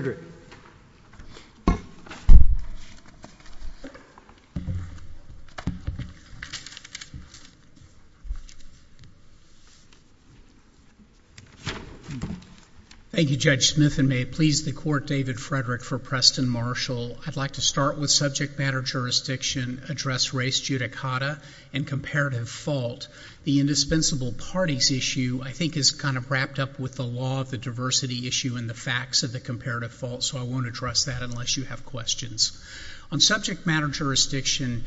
Thank you, Judge Smith, and may it please the Court, David Frederick, for Preston Marshall. I'd like to start with subject matter jurisdiction, address race judicata, and comparative fault. The indispensable parties issue I think is kind of wrapped up with the law of the diversity issue and the facts of the comparative fault, so I won't address that unless you have questions. On subject matter jurisdiction,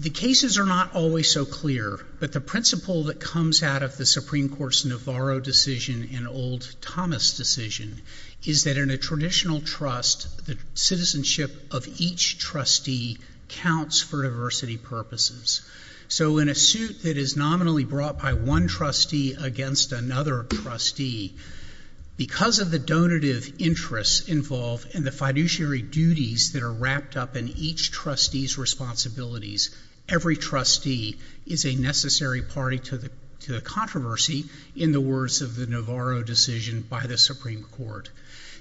the cases are not always so clear, but the principle that comes out of the Supreme Court's Navarro decision and old Thomas decision is that in a traditional trust, the citizenship of each trustee counts for diversity purposes. So in a suit that is nominally brought by one trustee against another trustee, because of the donative interests involved and the fiduciary duties that are wrapped up in each trustee's responsibilities, every trustee is a necessary party to the controversy in the words of the Navarro decision by the Supreme Court.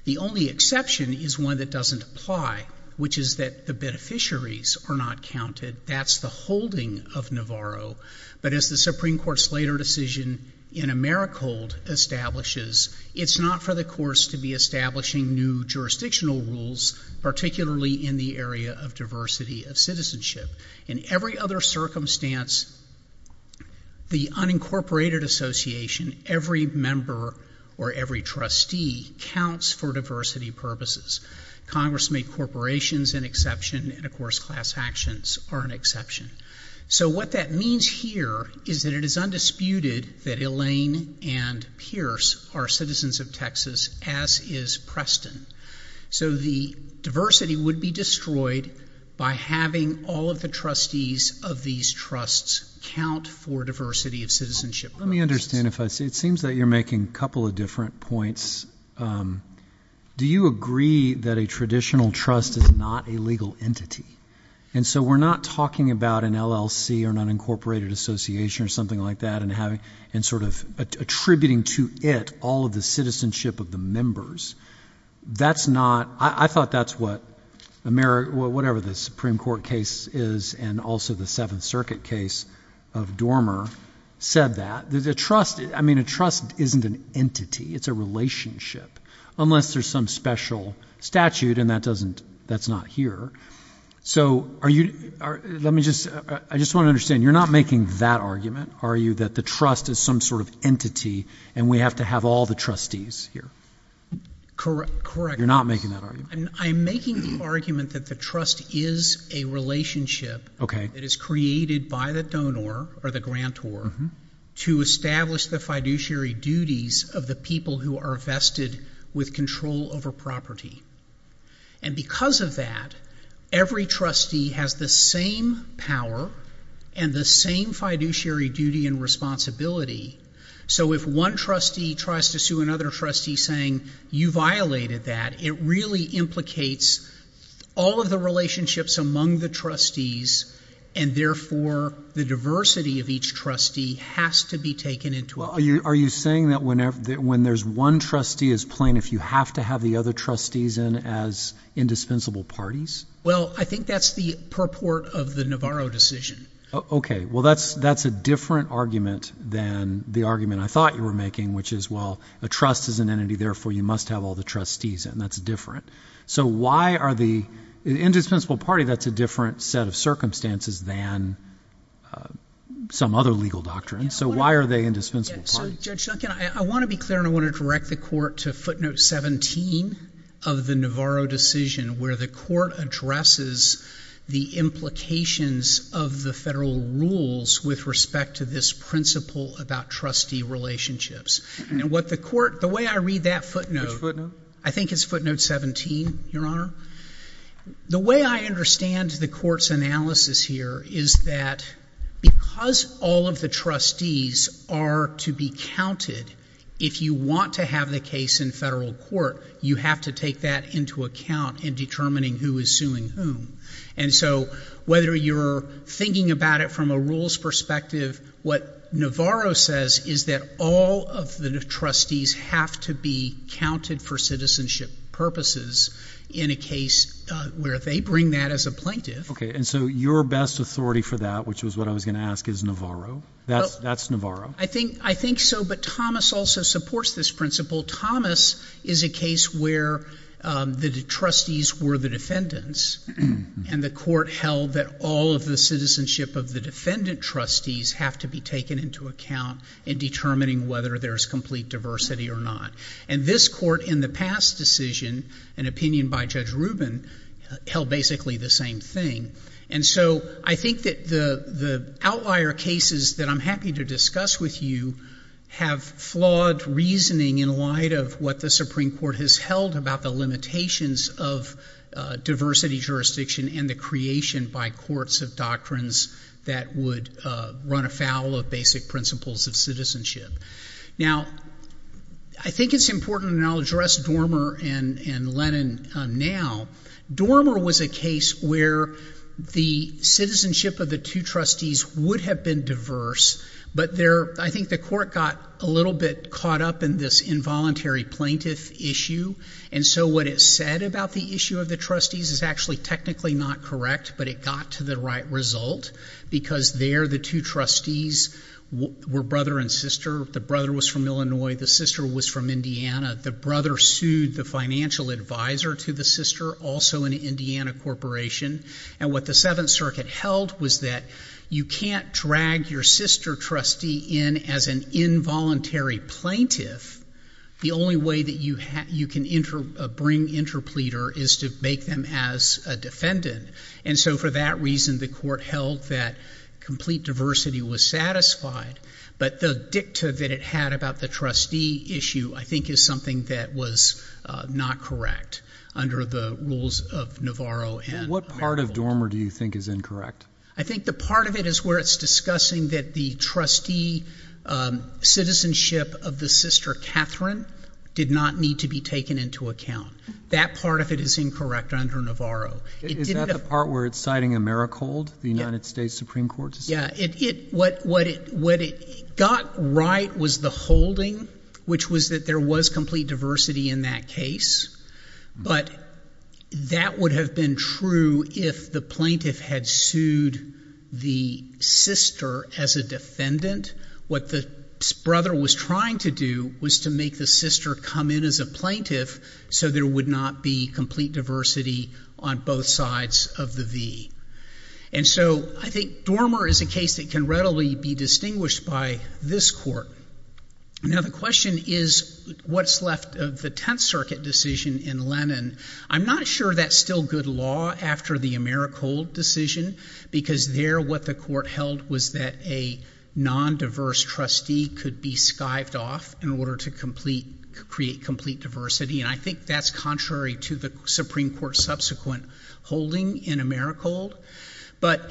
The only exception is one that doesn't apply, which is that the beneficiaries are not counted. That's the holding of Navarro, but as the Supreme Court's later decision in Americold establishes, it's not for the courts to be establishing new jurisdictional rules, particularly in the area of diversity of citizenship. In every other circumstance, the unincorporated association, every member or every trustee counts for diversity purposes. Congress made corporations an exception, and of course class actions are an exception. So what that means here is that it is undisputed that Elaine and Pierce are citizens of Texas, as is Preston. So the diversity would be destroyed by having all of the trustees of these trusts count for diversity of citizenship purposes. Let me understand if I see, it seems that you're making a couple of different points. One of them is, do you agree that a traditional trust is not a legal entity? And so we're not talking about an LLC or an unincorporated association or something like that and sort of attributing to it all of the citizenship of the members. I thought that's what whatever the Supreme Court case is and also the Seventh Circuit case of Dormer said that. A trust isn't an entity. It's a relationship, unless there's some special statute and that doesn't, that's not here. So are you, let me just, I just want to understand, you're not making that argument, are you, that the trust is some sort of entity and we have to have all the trustees here? Correct. Correct. You're not making that argument? I'm making the argument that the trust is a relationship that is created by the donor or the grantor to establish the fiduciary duties of the people who are vested with control over property. And because of that, every trustee has the same power and the same fiduciary duty and responsibility. So if one trustee tries to sue another trustee saying, you violated that, it really implicates all of the relationships among the trustees and therefore the diversity of each trustee has to be taken into account. Are you saying that whenever, that when there's one trustee is plain, if you have to have the other trustees in as indispensable parties? Well, I think that's the purport of the Navarro decision. Okay. Well, that's, that's a different argument than the argument I thought you were making, which is, well, a trust is an entity, therefore you must have all the trustees and that's different. So why are the, an indispensable party, that's a different set of circumstances than some other legal doctrine. So why are they indispensable parties? So Judge Duncan, I want to be clear and I want to direct the court to footnote 17 of the Navarro decision where the court addresses the implications of the federal rules with respect to this principle about trustee relationships. And what the court, the way I read that footnote, Which footnote? I think it's footnote 17, Your Honor. The way I understand the court's analysis here is that because all of the trustees are to be counted, if you want to have the case in federal court, you have to take that into account in determining who is suing whom. And so whether you're thinking about it from a rules perspective, what Navarro says is that all of the trustees have to be counted for citizenship purposes in a case where they bring that as a plaintiff. Okay, and so your best authority for that, which is what I was going to ask, is Navarro? That's Navarro? I think so, but Thomas also supports this principle. Thomas is a case where the trustees were the defendants and the court held that all of defendant trustees have to be taken into account in determining whether there's complete diversity or not. And this court in the past decision, an opinion by Judge Rubin, held basically the same thing. And so I think that the outlier cases that I'm happy to discuss with you have flawed reasoning in light of what the Supreme Court has held about the limitations of diversity jurisdiction and the creation by courts of doctrines that would run afoul of basic principles of citizenship. Now I think it's important, and I'll address Dormer and Lennon now, Dormer was a case where the citizenship of the two trustees would have been diverse, but I think the court got a little bit caught up in this involuntary plaintiff issue. And so what it said about the issue of the trustees is actually technically not correct, but it got to the right result because there the two trustees were brother and sister. The brother was from Illinois, the sister was from Indiana. The brother sued the financial advisor to the sister, also an Indiana corporation. And what the Seventh Circuit held was that you can't drag your sister trustee in as an involuntary plaintiff. The only way that you can bring interpleader is to make them as a defendant. And so for that reason, the court held that complete diversity was satisfied. But the dicta that it had about the trustee issue, I think, is something that was not correct under the rules of Navarro. What part of Dormer do you think is incorrect? I think the part of it is where it's discussing that the trustee citizenship of the sister Catherine did not need to be taken into account. That part of it is incorrect under Navarro. Is that the part where it's citing a merrick hold, the United States Supreme Court? Yeah. What it got right was the holding, which was that there was complete diversity in that case. But that would have been true if the plaintiff had sued the sister as a defendant. What the brother was trying to do was to make the sister come in as a plaintiff so there would not be complete diversity on both sides of the V. And so I think Dormer is a case that can readily be distinguished by this court. Now, the question is what's left of the Tenth Circuit decision in Lennon. I'm not sure that's still good law after the merrick hold decision because there what the court held was that a non-diverse trustee could be skived off in order to create complete diversity. And I think that's contrary to the Supreme Court's subsequent holding in a merrick hold. But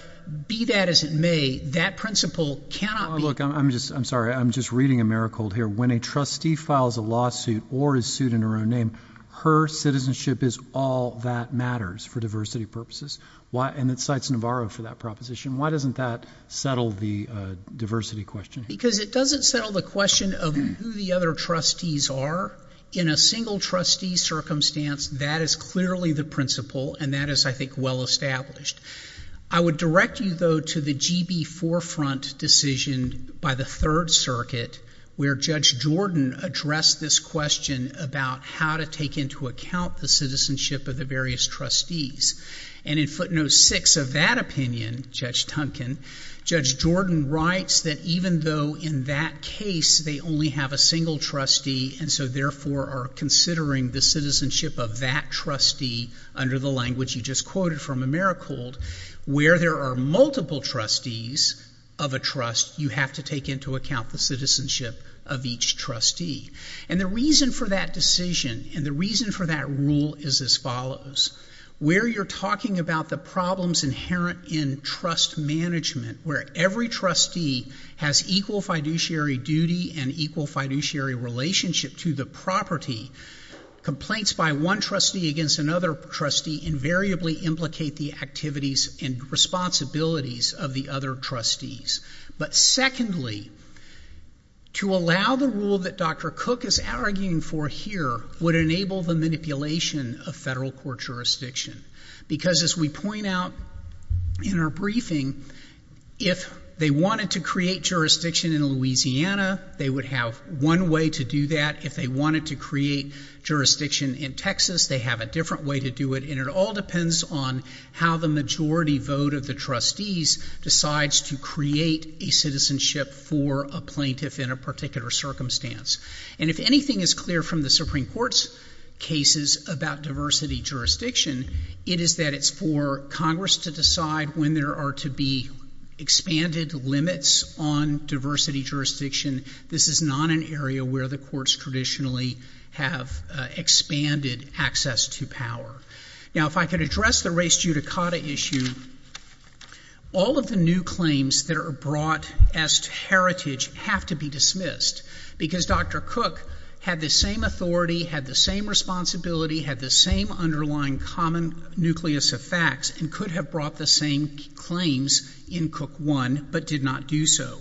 be that as it may, that principle cannot be— Look, I'm sorry. I'm just reading a merrick hold here. When a trustee files a lawsuit or is sued in her own name, her citizenship is all that matters for diversity purposes. And it cites Navarro for that proposition. Why doesn't that settle the diversity question? Because it doesn't settle the question of who the other trustees are. In a single trustee circumstance, that is clearly the principle, and that is, I think, well established. I would direct you, though, to the GB forefront decision by the Third Circuit where Judge Jordan addressed this question about how to take into account the citizenship of the various trustees. And in footnote six of that opinion, Judge Duncan, Judge Jordan writes that even though in that case they only have a single trustee and so, therefore, are considering the citizenship of that trustee under the language you just quoted from a merrick hold, where there are multiple trustees of a trust, you have to take into account the citizenship of each trustee. And the reason for that decision and the reason for that rule is as follows. Where you're talking about the problems inherent in trust management where every trustee has equal fiduciary duty and equal fiduciary relationship to the property, complaints by one trustee against another trustee invariably implicate the activities and responsibilities of the other trustees. But secondly, to allow the rule that Dr. Cook is arguing for here would enable the manipulation of federal court jurisdiction. Because as we point out in our briefing, if they wanted to create jurisdiction in Louisiana, they would have one way to do that. If they wanted to create jurisdiction in Texas, they have a different way to do it and it all depends on how the majority vote of the trustees decides to create a citizenship for a plaintiff in a particular circumstance. And if anything is clear from the Supreme Court's cases about diversity jurisdiction, it is that it's for Congress to decide when there are to be expanded limits on diversity jurisdiction. This is not an area where the courts traditionally have expanded access to power. Now if I could address the race judicata issue, all of the new claims that are brought as heritage have to be dismissed. Because Dr. Cook had the same authority, had the same responsibility, had the same underlying common nucleus of facts and could have brought the same claims in Cook 1 but did not do so.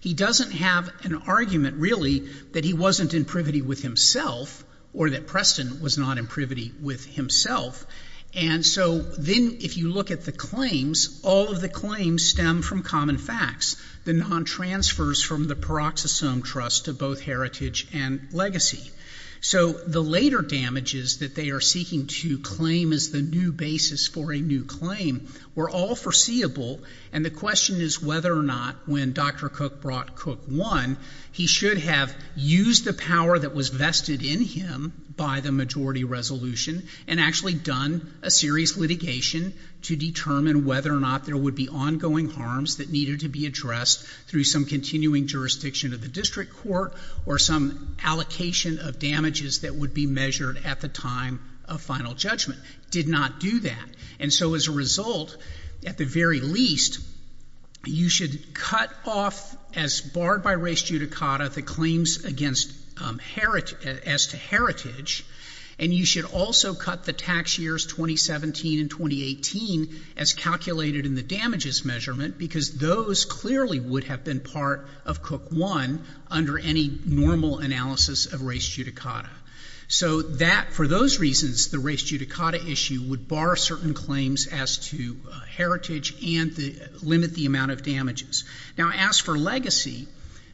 He doesn't have an argument really that he wasn't in privity with himself or that Preston was not in privity with himself. And so then if you look at the claims, all of the claims stem from common facts. The non-transfers from the Paroxysome Trust to both heritage and legacy. So the later damages that they are seeking to claim as the new basis for a new claim were all foreseeable and the question is whether or not when Dr. Cook brought Cook 1, he should have used the power that was vested in him by the majority resolution and actually done a serious litigation to determine whether or not there would be ongoing harms that needed to be addressed through some continuing jurisdiction of the district court or some allocation of damages that would be measured at the time of final judgment. Did not do that. And so as a result, at the very least, you should cut off as barred by race judicata the claims against heritage, as to heritage, and you should also cut the tax years 2017 and 2018 as calculated in the damages measurement because those clearly would have been part of Cook 1 under any normal analysis of race judicata. So that, for those reasons, the race judicata issue would bar certain claims as to heritage and limit the amount of damages. Now as for legacy,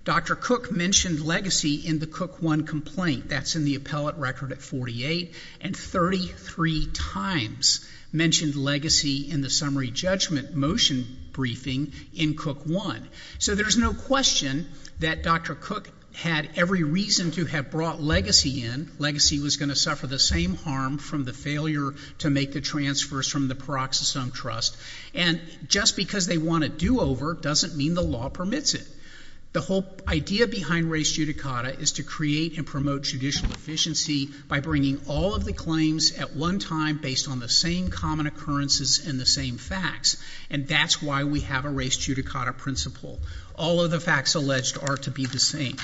Dr. Cook mentioned legacy in the Cook 1 complaint, that's in the appellate record at 48, and 33 times mentioned legacy in the summary judgment motion briefing in Cook 1. So there's no question that Dr. Cook had every reason to have brought legacy in. Legacy was going to suffer the same harm from the failure to make the transfers from the Paroxysome Trust, and just because they want a do-over doesn't mean the law permits it. The whole idea behind race judicata is to create and promote judicial efficiency by bringing all of the claims at one time based on the same common occurrences and the same facts, and that's why we have a race judicata principle. All of the facts alleged are to be the same.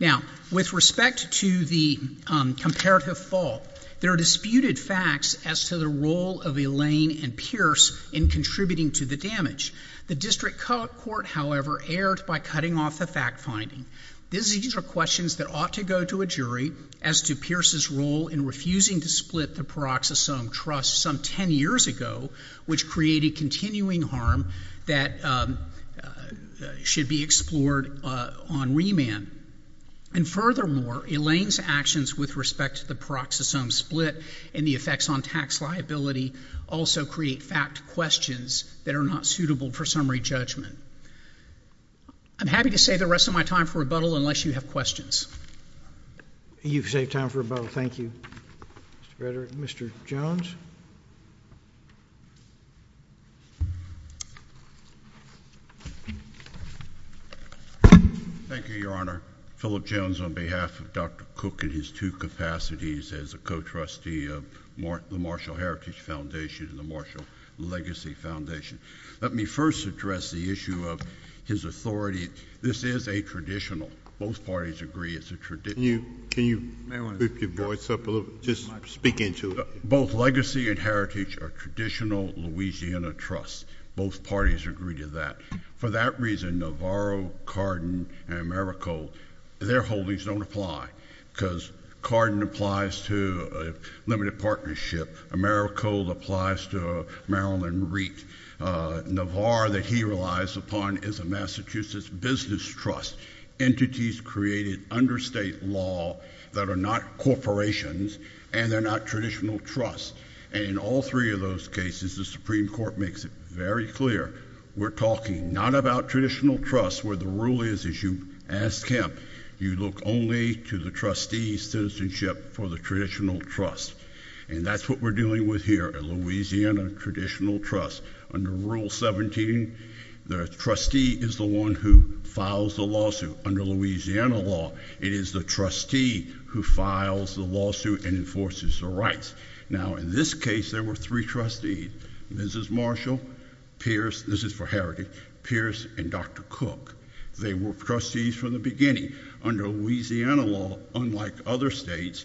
Now with respect to the comparative fault, there are disputed facts as to the role of Elaine and Pierce in contributing to the damage. The district court, however, erred by cutting off the fact finding. These are questions that ought to go to a jury as to Pierce's role in refusing to split the Paroxysome Trust some 10 years ago, which created continuing harm that should be explored on remand. And furthermore, Elaine's actions with respect to the Paroxysome split and the effects on tax liability also create fact questions that are not suitable for summary judgment. I'm happy to save the rest of my time for rebuttal unless you have questions. You've saved time for rebuttal. Thank you, Mr. Frederick. Mr. Jones? Thank you, Your Honor. Philip Jones on behalf of Dr. Cook in his two capacities as a co-trustee of the Marshall Heritage Foundation and the Marshall Legacy Foundation. Let me first address the issue of his authority. This is a traditional. Both parties agree it's a traditional. Can you, can you move your voice up a little bit? Just speak into it. Both Legacy and Heritage are traditional Louisiana trusts. Both parties agree to that. For that reason, Navarro, Cardin, and Merrick Cole, their holdings don't apply because Cardin applies to a limited partnership, Merrick Cole applies to Maryland REIT, Navar that he relies upon is a Massachusetts business trust. Entities created under state law that are not corporations and they're not traditional trusts. And in all three of those cases, the Supreme Court makes it very clear. We're talking not about traditional trusts where the rule is, is you ask him, you look only to the trustee's citizenship for the traditional trust. And that's what we're dealing with here at Louisiana traditional trust. Under Rule 17, the trustee is the one who files the lawsuit. Under Louisiana law, it is the trustee who files the lawsuit and enforces the rights. Now, in this case, there were three trustees, Mrs. Marshall, Pierce, this is for Heritage, Pierce, and Dr. Cook. They were trustees from the beginning. Under Louisiana law, unlike other states,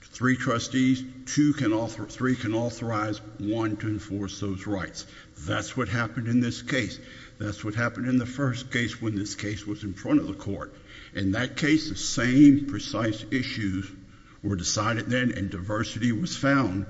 three trustees, two can, three can authorize one to enforce those rights. That's what happened in this case. That's what happened in the first case when this case was in front of the court. In that case, the same precise issues were decided then and diversity was found.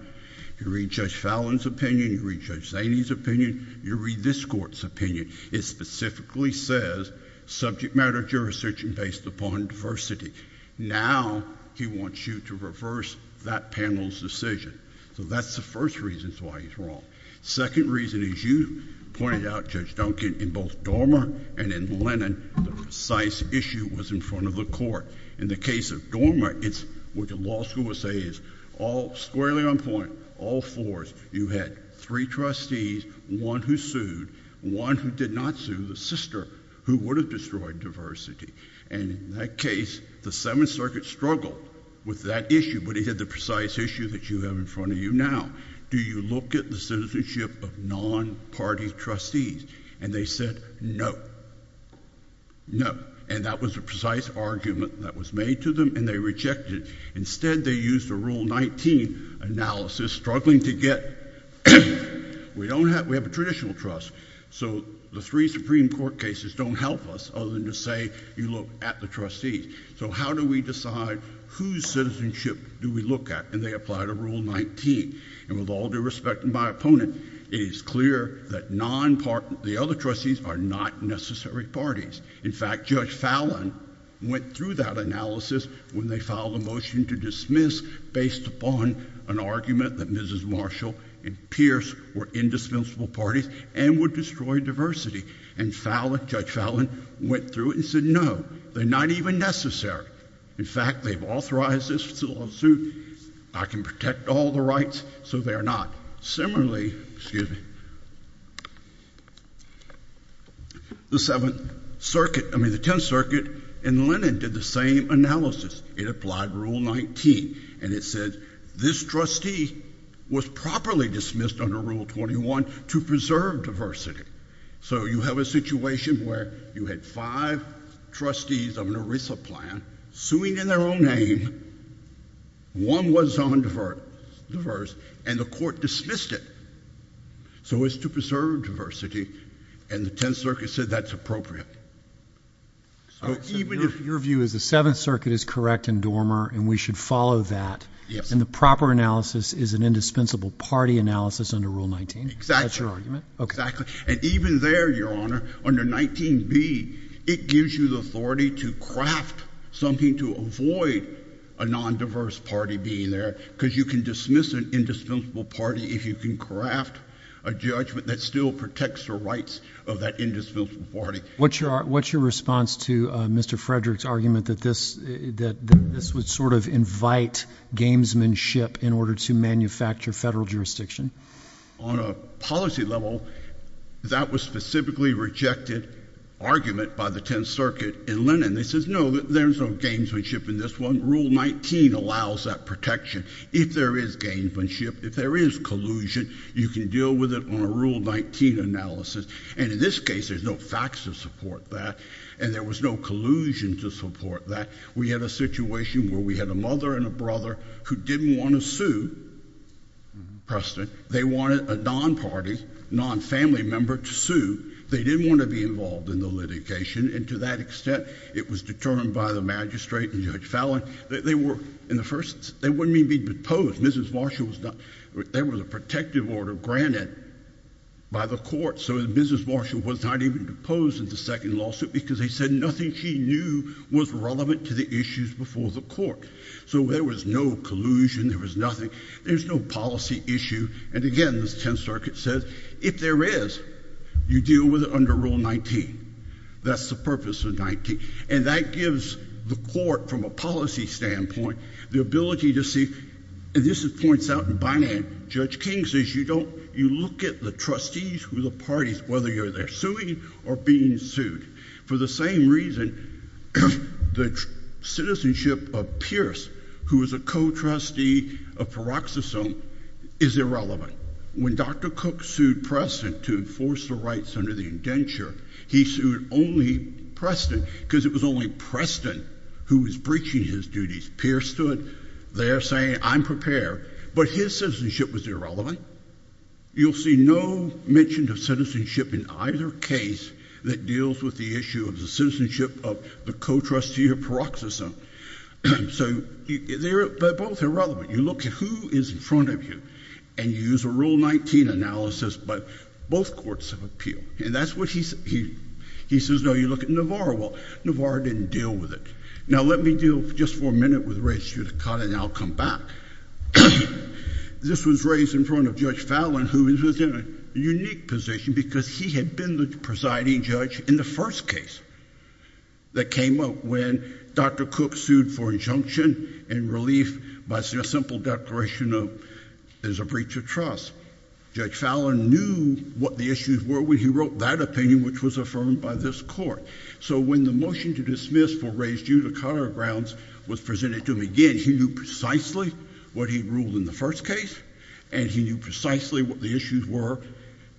You read Judge Fallon's opinion, you read Judge Zaney's opinion, you read this court's It specifically says subject matter jurisdiction based upon diversity. Now he wants you to reverse that panel's decision. So that's the first reason why he's wrong. Second reason is you pointed out, Judge Duncan, in both Dormer and in Lennon, the precise issue was in front of the court. In the case of Dormer, it's what the law school would say is all squarely on point, all fours. You had three trustees, one who sued, one who did not sue, the sister, who would have destroyed diversity. And in that case, the Seventh Circuit struggled with that issue, but it had the precise issue that you have in front of you now. Do you look at the citizenship of non-party trustees? And they said, no, no. And that was a precise argument that was made to them, and they rejected it. Instead, they used a Rule 19 analysis, struggling to get... We have a traditional trust, so the three Supreme Court cases don't help us, other than to say, you look at the trustees. So how do we decide whose citizenship do we look at? And they applied a Rule 19. And with all due respect to my opponent, it is clear that the other trustees are not necessary parties. In fact, Judge Fallon went through that analysis when they filed a motion to dismiss based upon an argument that Mrs. Marshall and Pierce were indispensable parties and would destroy diversity. And Judge Fallon went through it and said, no, they're not even necessary. In fact, they've authorized this lawsuit. I can protect all the rights, so they're not. Now, similarly, excuse me, the Seventh Circuit, I mean the Tenth Circuit, and Lennon did the same analysis. It applied Rule 19, and it said, this trustee was properly dismissed under Rule 21 to preserve diversity. So you have a situation where you had five trustees of an ERISA plan suing in their own name. One was undiverse, and the court dismissed it. So it's to preserve diversity, and the Tenth Circuit said that's appropriate. So even if— Your view is the Seventh Circuit is correct in Dormer, and we should follow that. Yes. And the proper analysis is an indispensable party analysis under Rule 19? Exactly. That's your argument? Exactly. And even there, Your Honor, under 19b, it gives you the authority to craft something to avoid a nondiverse party being there, because you can dismiss an indispensable party if you can craft a judgment that still protects the rights of that indispensable party. What's your response to Mr. Frederick's argument that this would sort of invite gamesmanship in order to manufacture federal jurisdiction? Well, on a policy level, that was a specifically rejected argument by the Tenth Circuit in Lennon. They said, no, there's no gamesmanship in this one. Rule 19 allows that protection. If there is gamesmanship, if there is collusion, you can deal with it on a Rule 19 analysis. And in this case, there's no facts to support that, and there was no collusion to support that. We had a situation where we had a mother and a brother who didn't want to sue Preston. They wanted a non-party, non-family member to sue. They didn't want to be involved in the litigation, and to that extent, it was determined by the magistrate and Judge Fallin that they were, in the first, they wouldn't even be deposed. Mrs. Marshall was not, there was a protective order granted by the court, so Mrs. Marshall was not even deposed in the second lawsuit because they said nothing she knew was relevant to the issues before the court. So there was no collusion, there was nothing, there's no policy issue. And again, the Tenth Circuit says, if there is, you deal with it under Rule 19. That's the purpose of 19. And that gives the court, from a policy standpoint, the ability to see, and this is points out in Bynum, Judge King says, you don't, you look at the trustees who the parties, whether you're there suing or being sued. For the same reason, the citizenship of Pierce, who is a co-trustee of Paroxysome, is irrelevant. When Dr. Cook sued Preston to enforce the rights under the indenture, he sued only Preston because it was only Preston who was breaching his duties. Pierce stood there saying, I'm prepared, but his citizenship was irrelevant. You'll see no mention of citizenship in either case that deals with the issue of the citizenship of the co-trustee of Paroxysome. So they're both irrelevant. You look at who is in front of you and use a Rule 19 analysis, but both courts have appealed. And that's what he says, no, you look at Navarro. Well, Navarro didn't deal with it. Now let me deal just for a minute with Registered Accountant and I'll come back. This was raised in front of Judge Fallon, who is in a unique position because he had been the presiding judge in the first case that came up when Dr. Cook sued for injunction and relief by a simple declaration of there's a breach of trust. Judge Fallon knew what the issues were when he wrote that opinion, which was affirmed by this court. So when the motion to dismiss for raise due to counter grounds was presented to him again, he knew precisely what he ruled in the first case and he knew precisely what the issues were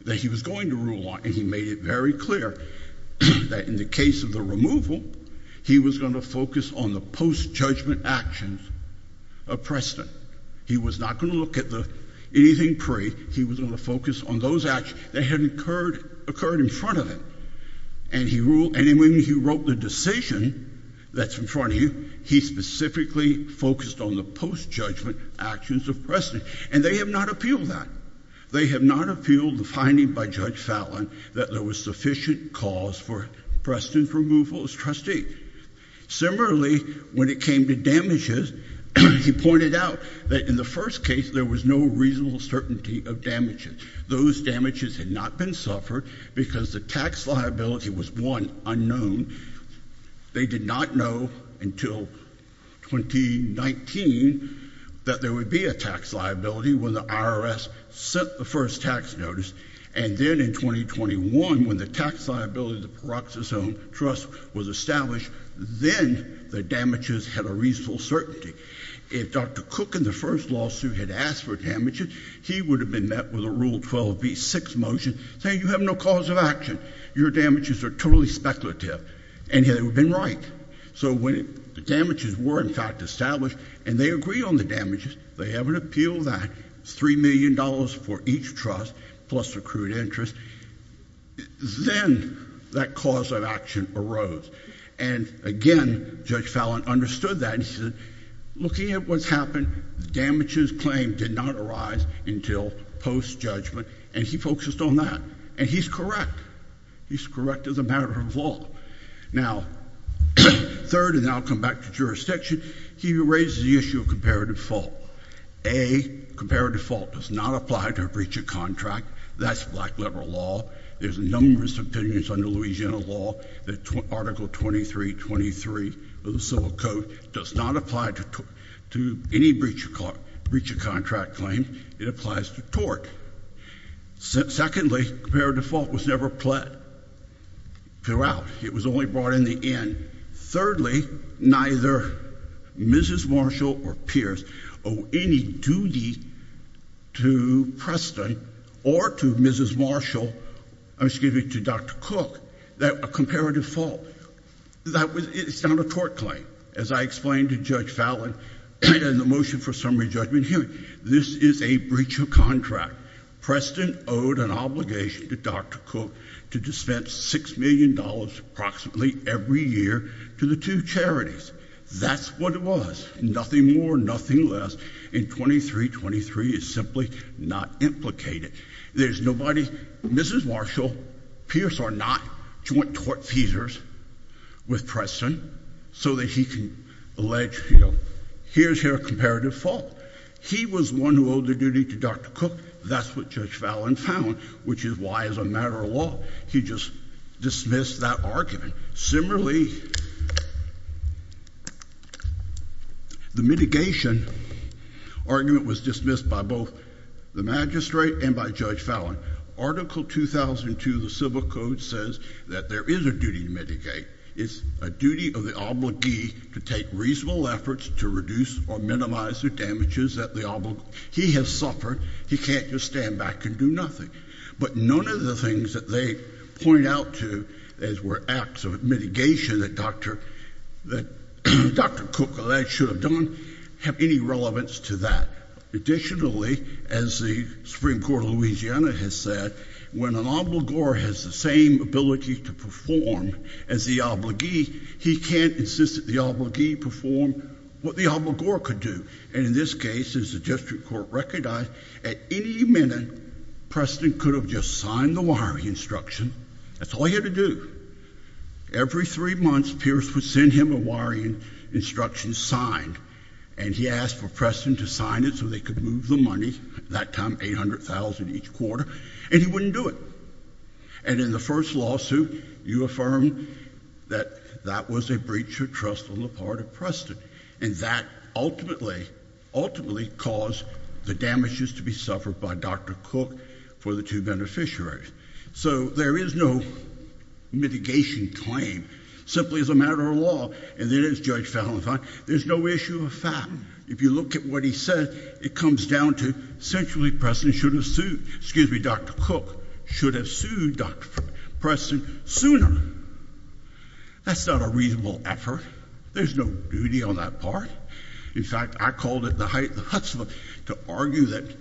that he was going to rule on. And he made it very clear that in the case of the removal, he was going to focus on the post-judgment actions of Preston. He was not going to look at anything pre. He was going to focus on those actions that had occurred in front of him. And he ruled, and when he wrote the decision that's in front of him, he specifically focused on the post-judgment actions of Preston. And they have not appealed that. They have not appealed the finding by Judge Fallon that there was sufficient cause for Preston's removal as trustee. Similarly, when it came to damages, he pointed out that in the first case, there was no reasonable certainty of damages. Those damages had not been suffered because the tax liability was one, unknown. They did not know until 2019 that there would be a tax liability when the IRS sent the first tax notice. And then in 2021, when the tax liability of the Paroxysome Trust was established, then the damages had a reasonable certainty. If Dr. Cook in the first lawsuit had asked for damages, he would have been met with a Rule 12b-6 motion saying, you have no cause of action. Your damages are totally speculative. And he would have been right. So when the damages were, in fact, established, and they agreed on the damages, they haven't appealed that, $3 million for each trust plus accrued interest, then that cause of action arose. And again, Judge Fallon understood that and he said, looking at what's happened, the damages claim did not arise until post-judgment. And he focused on that. And he's correct. He's correct as a matter of law. Now third, and then I'll come back to jurisdiction, he raises the issue of comparative fault. A, comparative fault does not apply to a breach of contract. That's black liberal law. There's numerous opinions under Louisiana law that Article 2323 of the Civil Code does not apply to any breach of contract claim. It applies to tort. Secondly, comparative fault was never pled throughout. It was only brought in the end. Thirdly, neither Mrs. Marshall or Pierce owe any duty to Preston or to Mrs. Marshall, excuse me, to Dr. Cook, that a comparative fault. That was, it's not a tort claim. As I explained to Judge Fallon in the motion for summary judgment hearing, this is a breach of contract. Preston owed an obligation to Dr. Cook to dispense $6 million approximately every year to the two charities. That's what it was. Nothing more, nothing less, and 2323 is simply not implicated. There's nobody, Mrs. Marshall, Pierce are not joint tort feasors with Preston so that he can allege, you know, here's your comparative fault. He was one who owed the duty to Dr. Cook. That's what Judge Fallon found, which is why as a matter of law he just dismissed that argument. Similarly, the mitigation argument was dismissed by both the magistrate and by Judge Fallon. Article 2002 of the Civil Code says that there is a duty to mitigate. It's a duty of the obligee to take reasonable efforts to reduce or minimize the damages that the obligor. He has suffered. He can't just stand back and do nothing. But none of the things that they point out to as were acts of mitigation that Dr. Cook should have done have any relevance to that. Additionally, as the Supreme Court of Louisiana has said, when an obligor has the same ability to perform as the obligee, he can't insist that the obligee perform what the obligor could do. And in this case, as the district court recognized, at any minute, Preston could have just signed the wiring instruction. That's all he had to do. Every three months, Pierce would send him a wiring instruction signed, and he asked for Preston to sign it so they could move the money, that time $800,000 each quarter, and he wouldn't do it. And in the first lawsuit, you affirmed that that was a breach of trust on the part of And that ultimately caused the damages to be suffered by Dr. Cook for the two beneficiaries. So there is no mitigation claim. Simply as a matter of law, and it is Judge Falentine, there's no issue of fact. If you look at what he said, it comes down to essentially Preston should have sued, excuse me, Dr. Cook should have sued Dr. Preston sooner. That's not a reasonable effort. There's no duty on that part. In fact, I called it the Hutzpah to argue that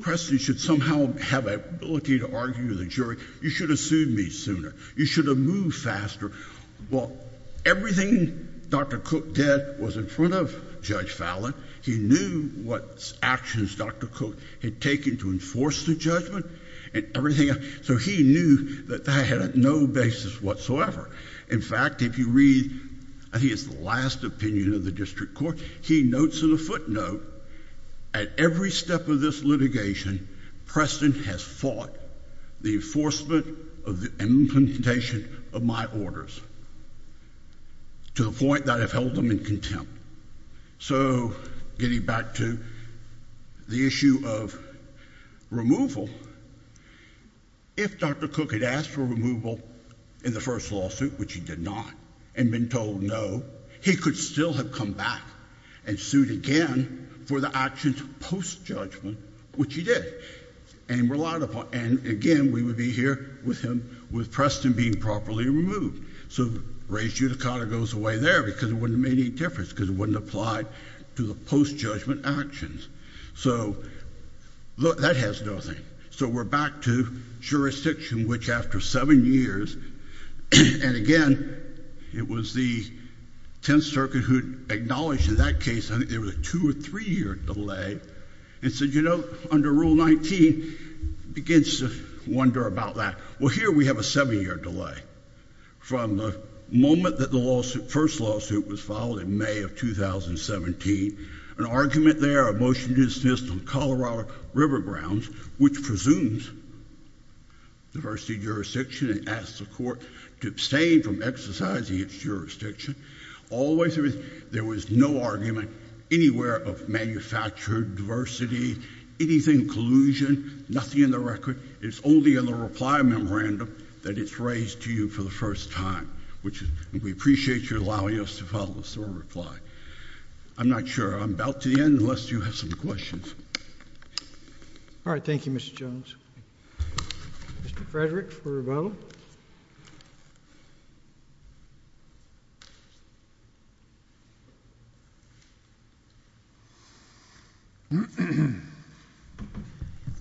Preston should somehow have an ability to argue with a jury, you should have sued me sooner. You should have moved faster. Well, everything Dr. Cook did was in front of Judge Falentine. He knew what actions Dr. Cook had taken to enforce the judgment and everything else. So he knew that that had no basis whatsoever. In fact, if you read, I think it's the last opinion of the district court, he notes in a footnote, at every step of this litigation, Preston has fought the enforcement of the implementation of my orders to the point that I've held him in contempt. So getting back to the issue of removal, if Dr. Cook had asked for removal in the first lawsuit, which he did not, and been told no, he could still have come back and sued again for the actions post-judgment, which he did, and again, we would be here with him with Preston being properly removed. So raised uticada goes away there, because it wouldn't have made any difference, because it wouldn't have applied to the post-judgment actions. So look, that has nothing. So we're back to jurisdiction, which after seven years, and again, it was the Tenth Circuit who acknowledged in that case, I think there was a two or three year delay, and said, you know, under Rule 19, begins to wonder about that. Well, here we have a seven year delay, from the moment that the first lawsuit was filed in May of 2017, an argument there, a motion to insist on Colorado River Grounds, which presumes diversity jurisdiction, and asked the court to abstain from exercising its jurisdiction, always there was no argument anywhere of manufactured diversity, anything collusion, nothing in the record, it's only in the reply memorandum that it's raised to you for the first time, which we appreciate you allowing us to follow through and reply. I'm not sure I'm about to end, unless you have some questions. All right, thank you, Mr. Jones. Mr. Frederick for Rebellion. Thank you.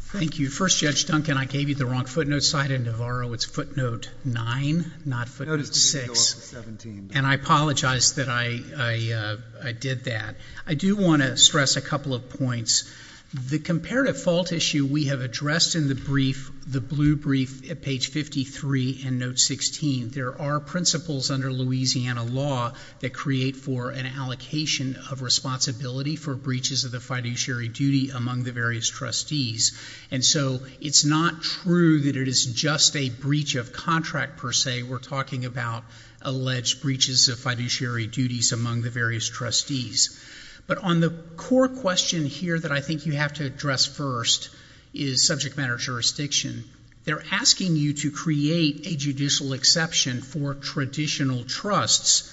Thank you. First Judge Duncan, I gave you the wrong footnote, Sida Navarro, it's footnote nine, not footnote six, and I apologize that I did that. I do want to stress a couple of points. The comparative fault issue we have addressed in the brief, the blue brief at page 53 and note 16, there are principles under Louisiana law that create for an allocation of responsibility for breaches of the fiduciary duty among the various trustees. And so, it's not true that it is just a breach of contract per se, we're talking about alleged breaches of fiduciary duties among the various trustees. But on the core question here that I think you have to address first is subject matter jurisdiction. They're asking you to create a judicial exception for traditional trusts,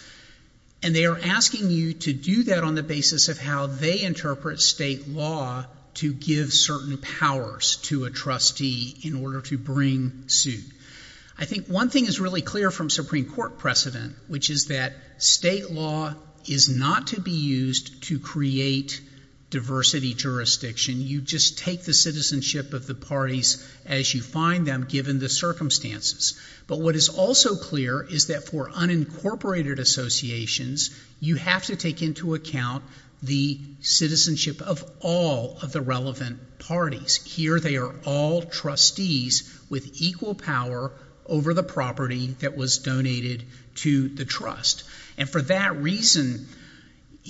and they are asking you to do that on the basis of how they interpret state law to give certain powers to a trustee in order to bring suit. I think one thing is really clear from Supreme Court precedent, which is that state law is not to be used to create diversity jurisdiction. You just take the citizenship of the parties as you find them given the circumstances. But what is also clear is that for unincorporated associations, you have to take into account the citizenship of all of the relevant parties. Here they are all trustees with equal power over the property that was donated to the trust. And for that reason,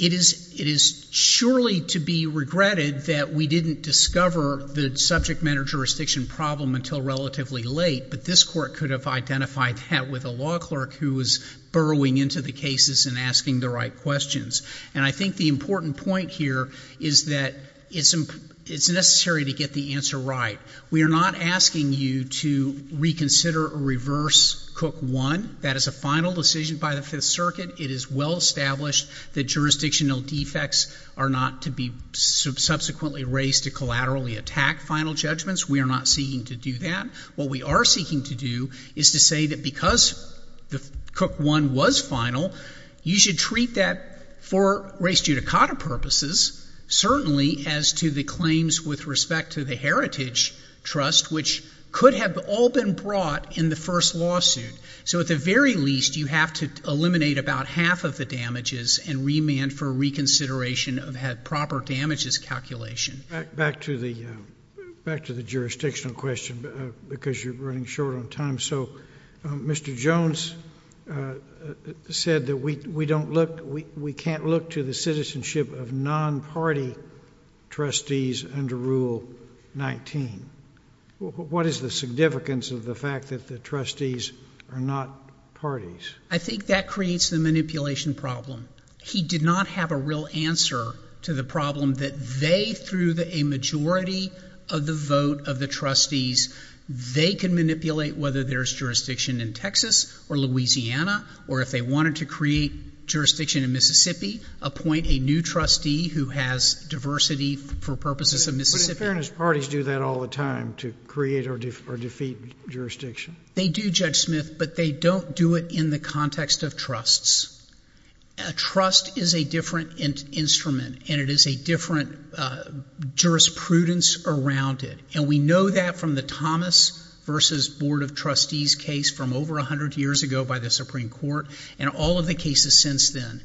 it is surely to be regretted that we didn't discover the subject matter jurisdiction problem until relatively late, but this Court could have identified that with a law clerk who was burrowing into the cases and asking the right questions. And I think the important point here is that it's necessary to get the answer right. We are not asking you to reconsider or reverse Cook 1. That is a final decision by the Fifth Circuit. It is well established that jurisdictional defects are not to be subsequently raised to collaterally attack final judgments. We are not seeking to do that. What we are seeking to do is to say that because Cook 1 was final, you should treat that for race judicata purposes, certainly as to the claims with respect to the Heritage Trust, which could have all been brought in the first lawsuit. So at the very least, you have to eliminate about half of the damages and remand for reconsideration of proper damages calculation. Back to the jurisdictional question, because you're running short on time. So Mr. Jones said that we can't look to the citizenship of non-party trustees under Rule 19. What is the significance of the fact that the trustees are not parties? I think that creates the manipulation problem. He did not have a real answer to the problem that they, through a majority of the vote of the trustees, they can manipulate whether there's jurisdiction in Texas or Louisiana, or if they wanted to create jurisdiction in Mississippi, appoint a new trustee who has diversity for purposes of Mississippi. But in fairness, parties do that all the time to create or defeat jurisdiction. They do, Judge Smith, but they don't do it in the context of trusts. A trust is a different instrument, and it is a different jurisprudence around it. And we know that from the Thomas v. Board of Trustees case from over 100 years ago by the Supreme Court, and all of the cases since then.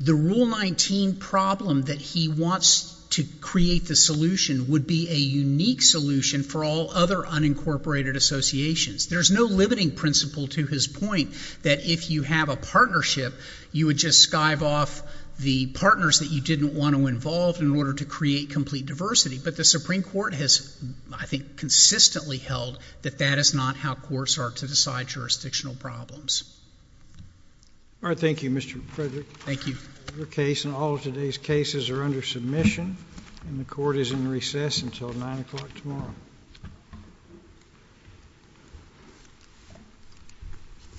The Rule 19 problem that he wants to create the solution would be a unique solution for all other unincorporated associations. There's no limiting principle to his point that if you have a partnership, you would just skive off the partners that you didn't want to involve in order to create complete diversity. But the Supreme Court has, I think, consistently held that that is not how courts are to decide jurisdictional problems. All right. Thank you, Mr. Frederick. Thank you. Your case and all of today's cases are under submission, and the Court is in recess until 9 o'clock tomorrow.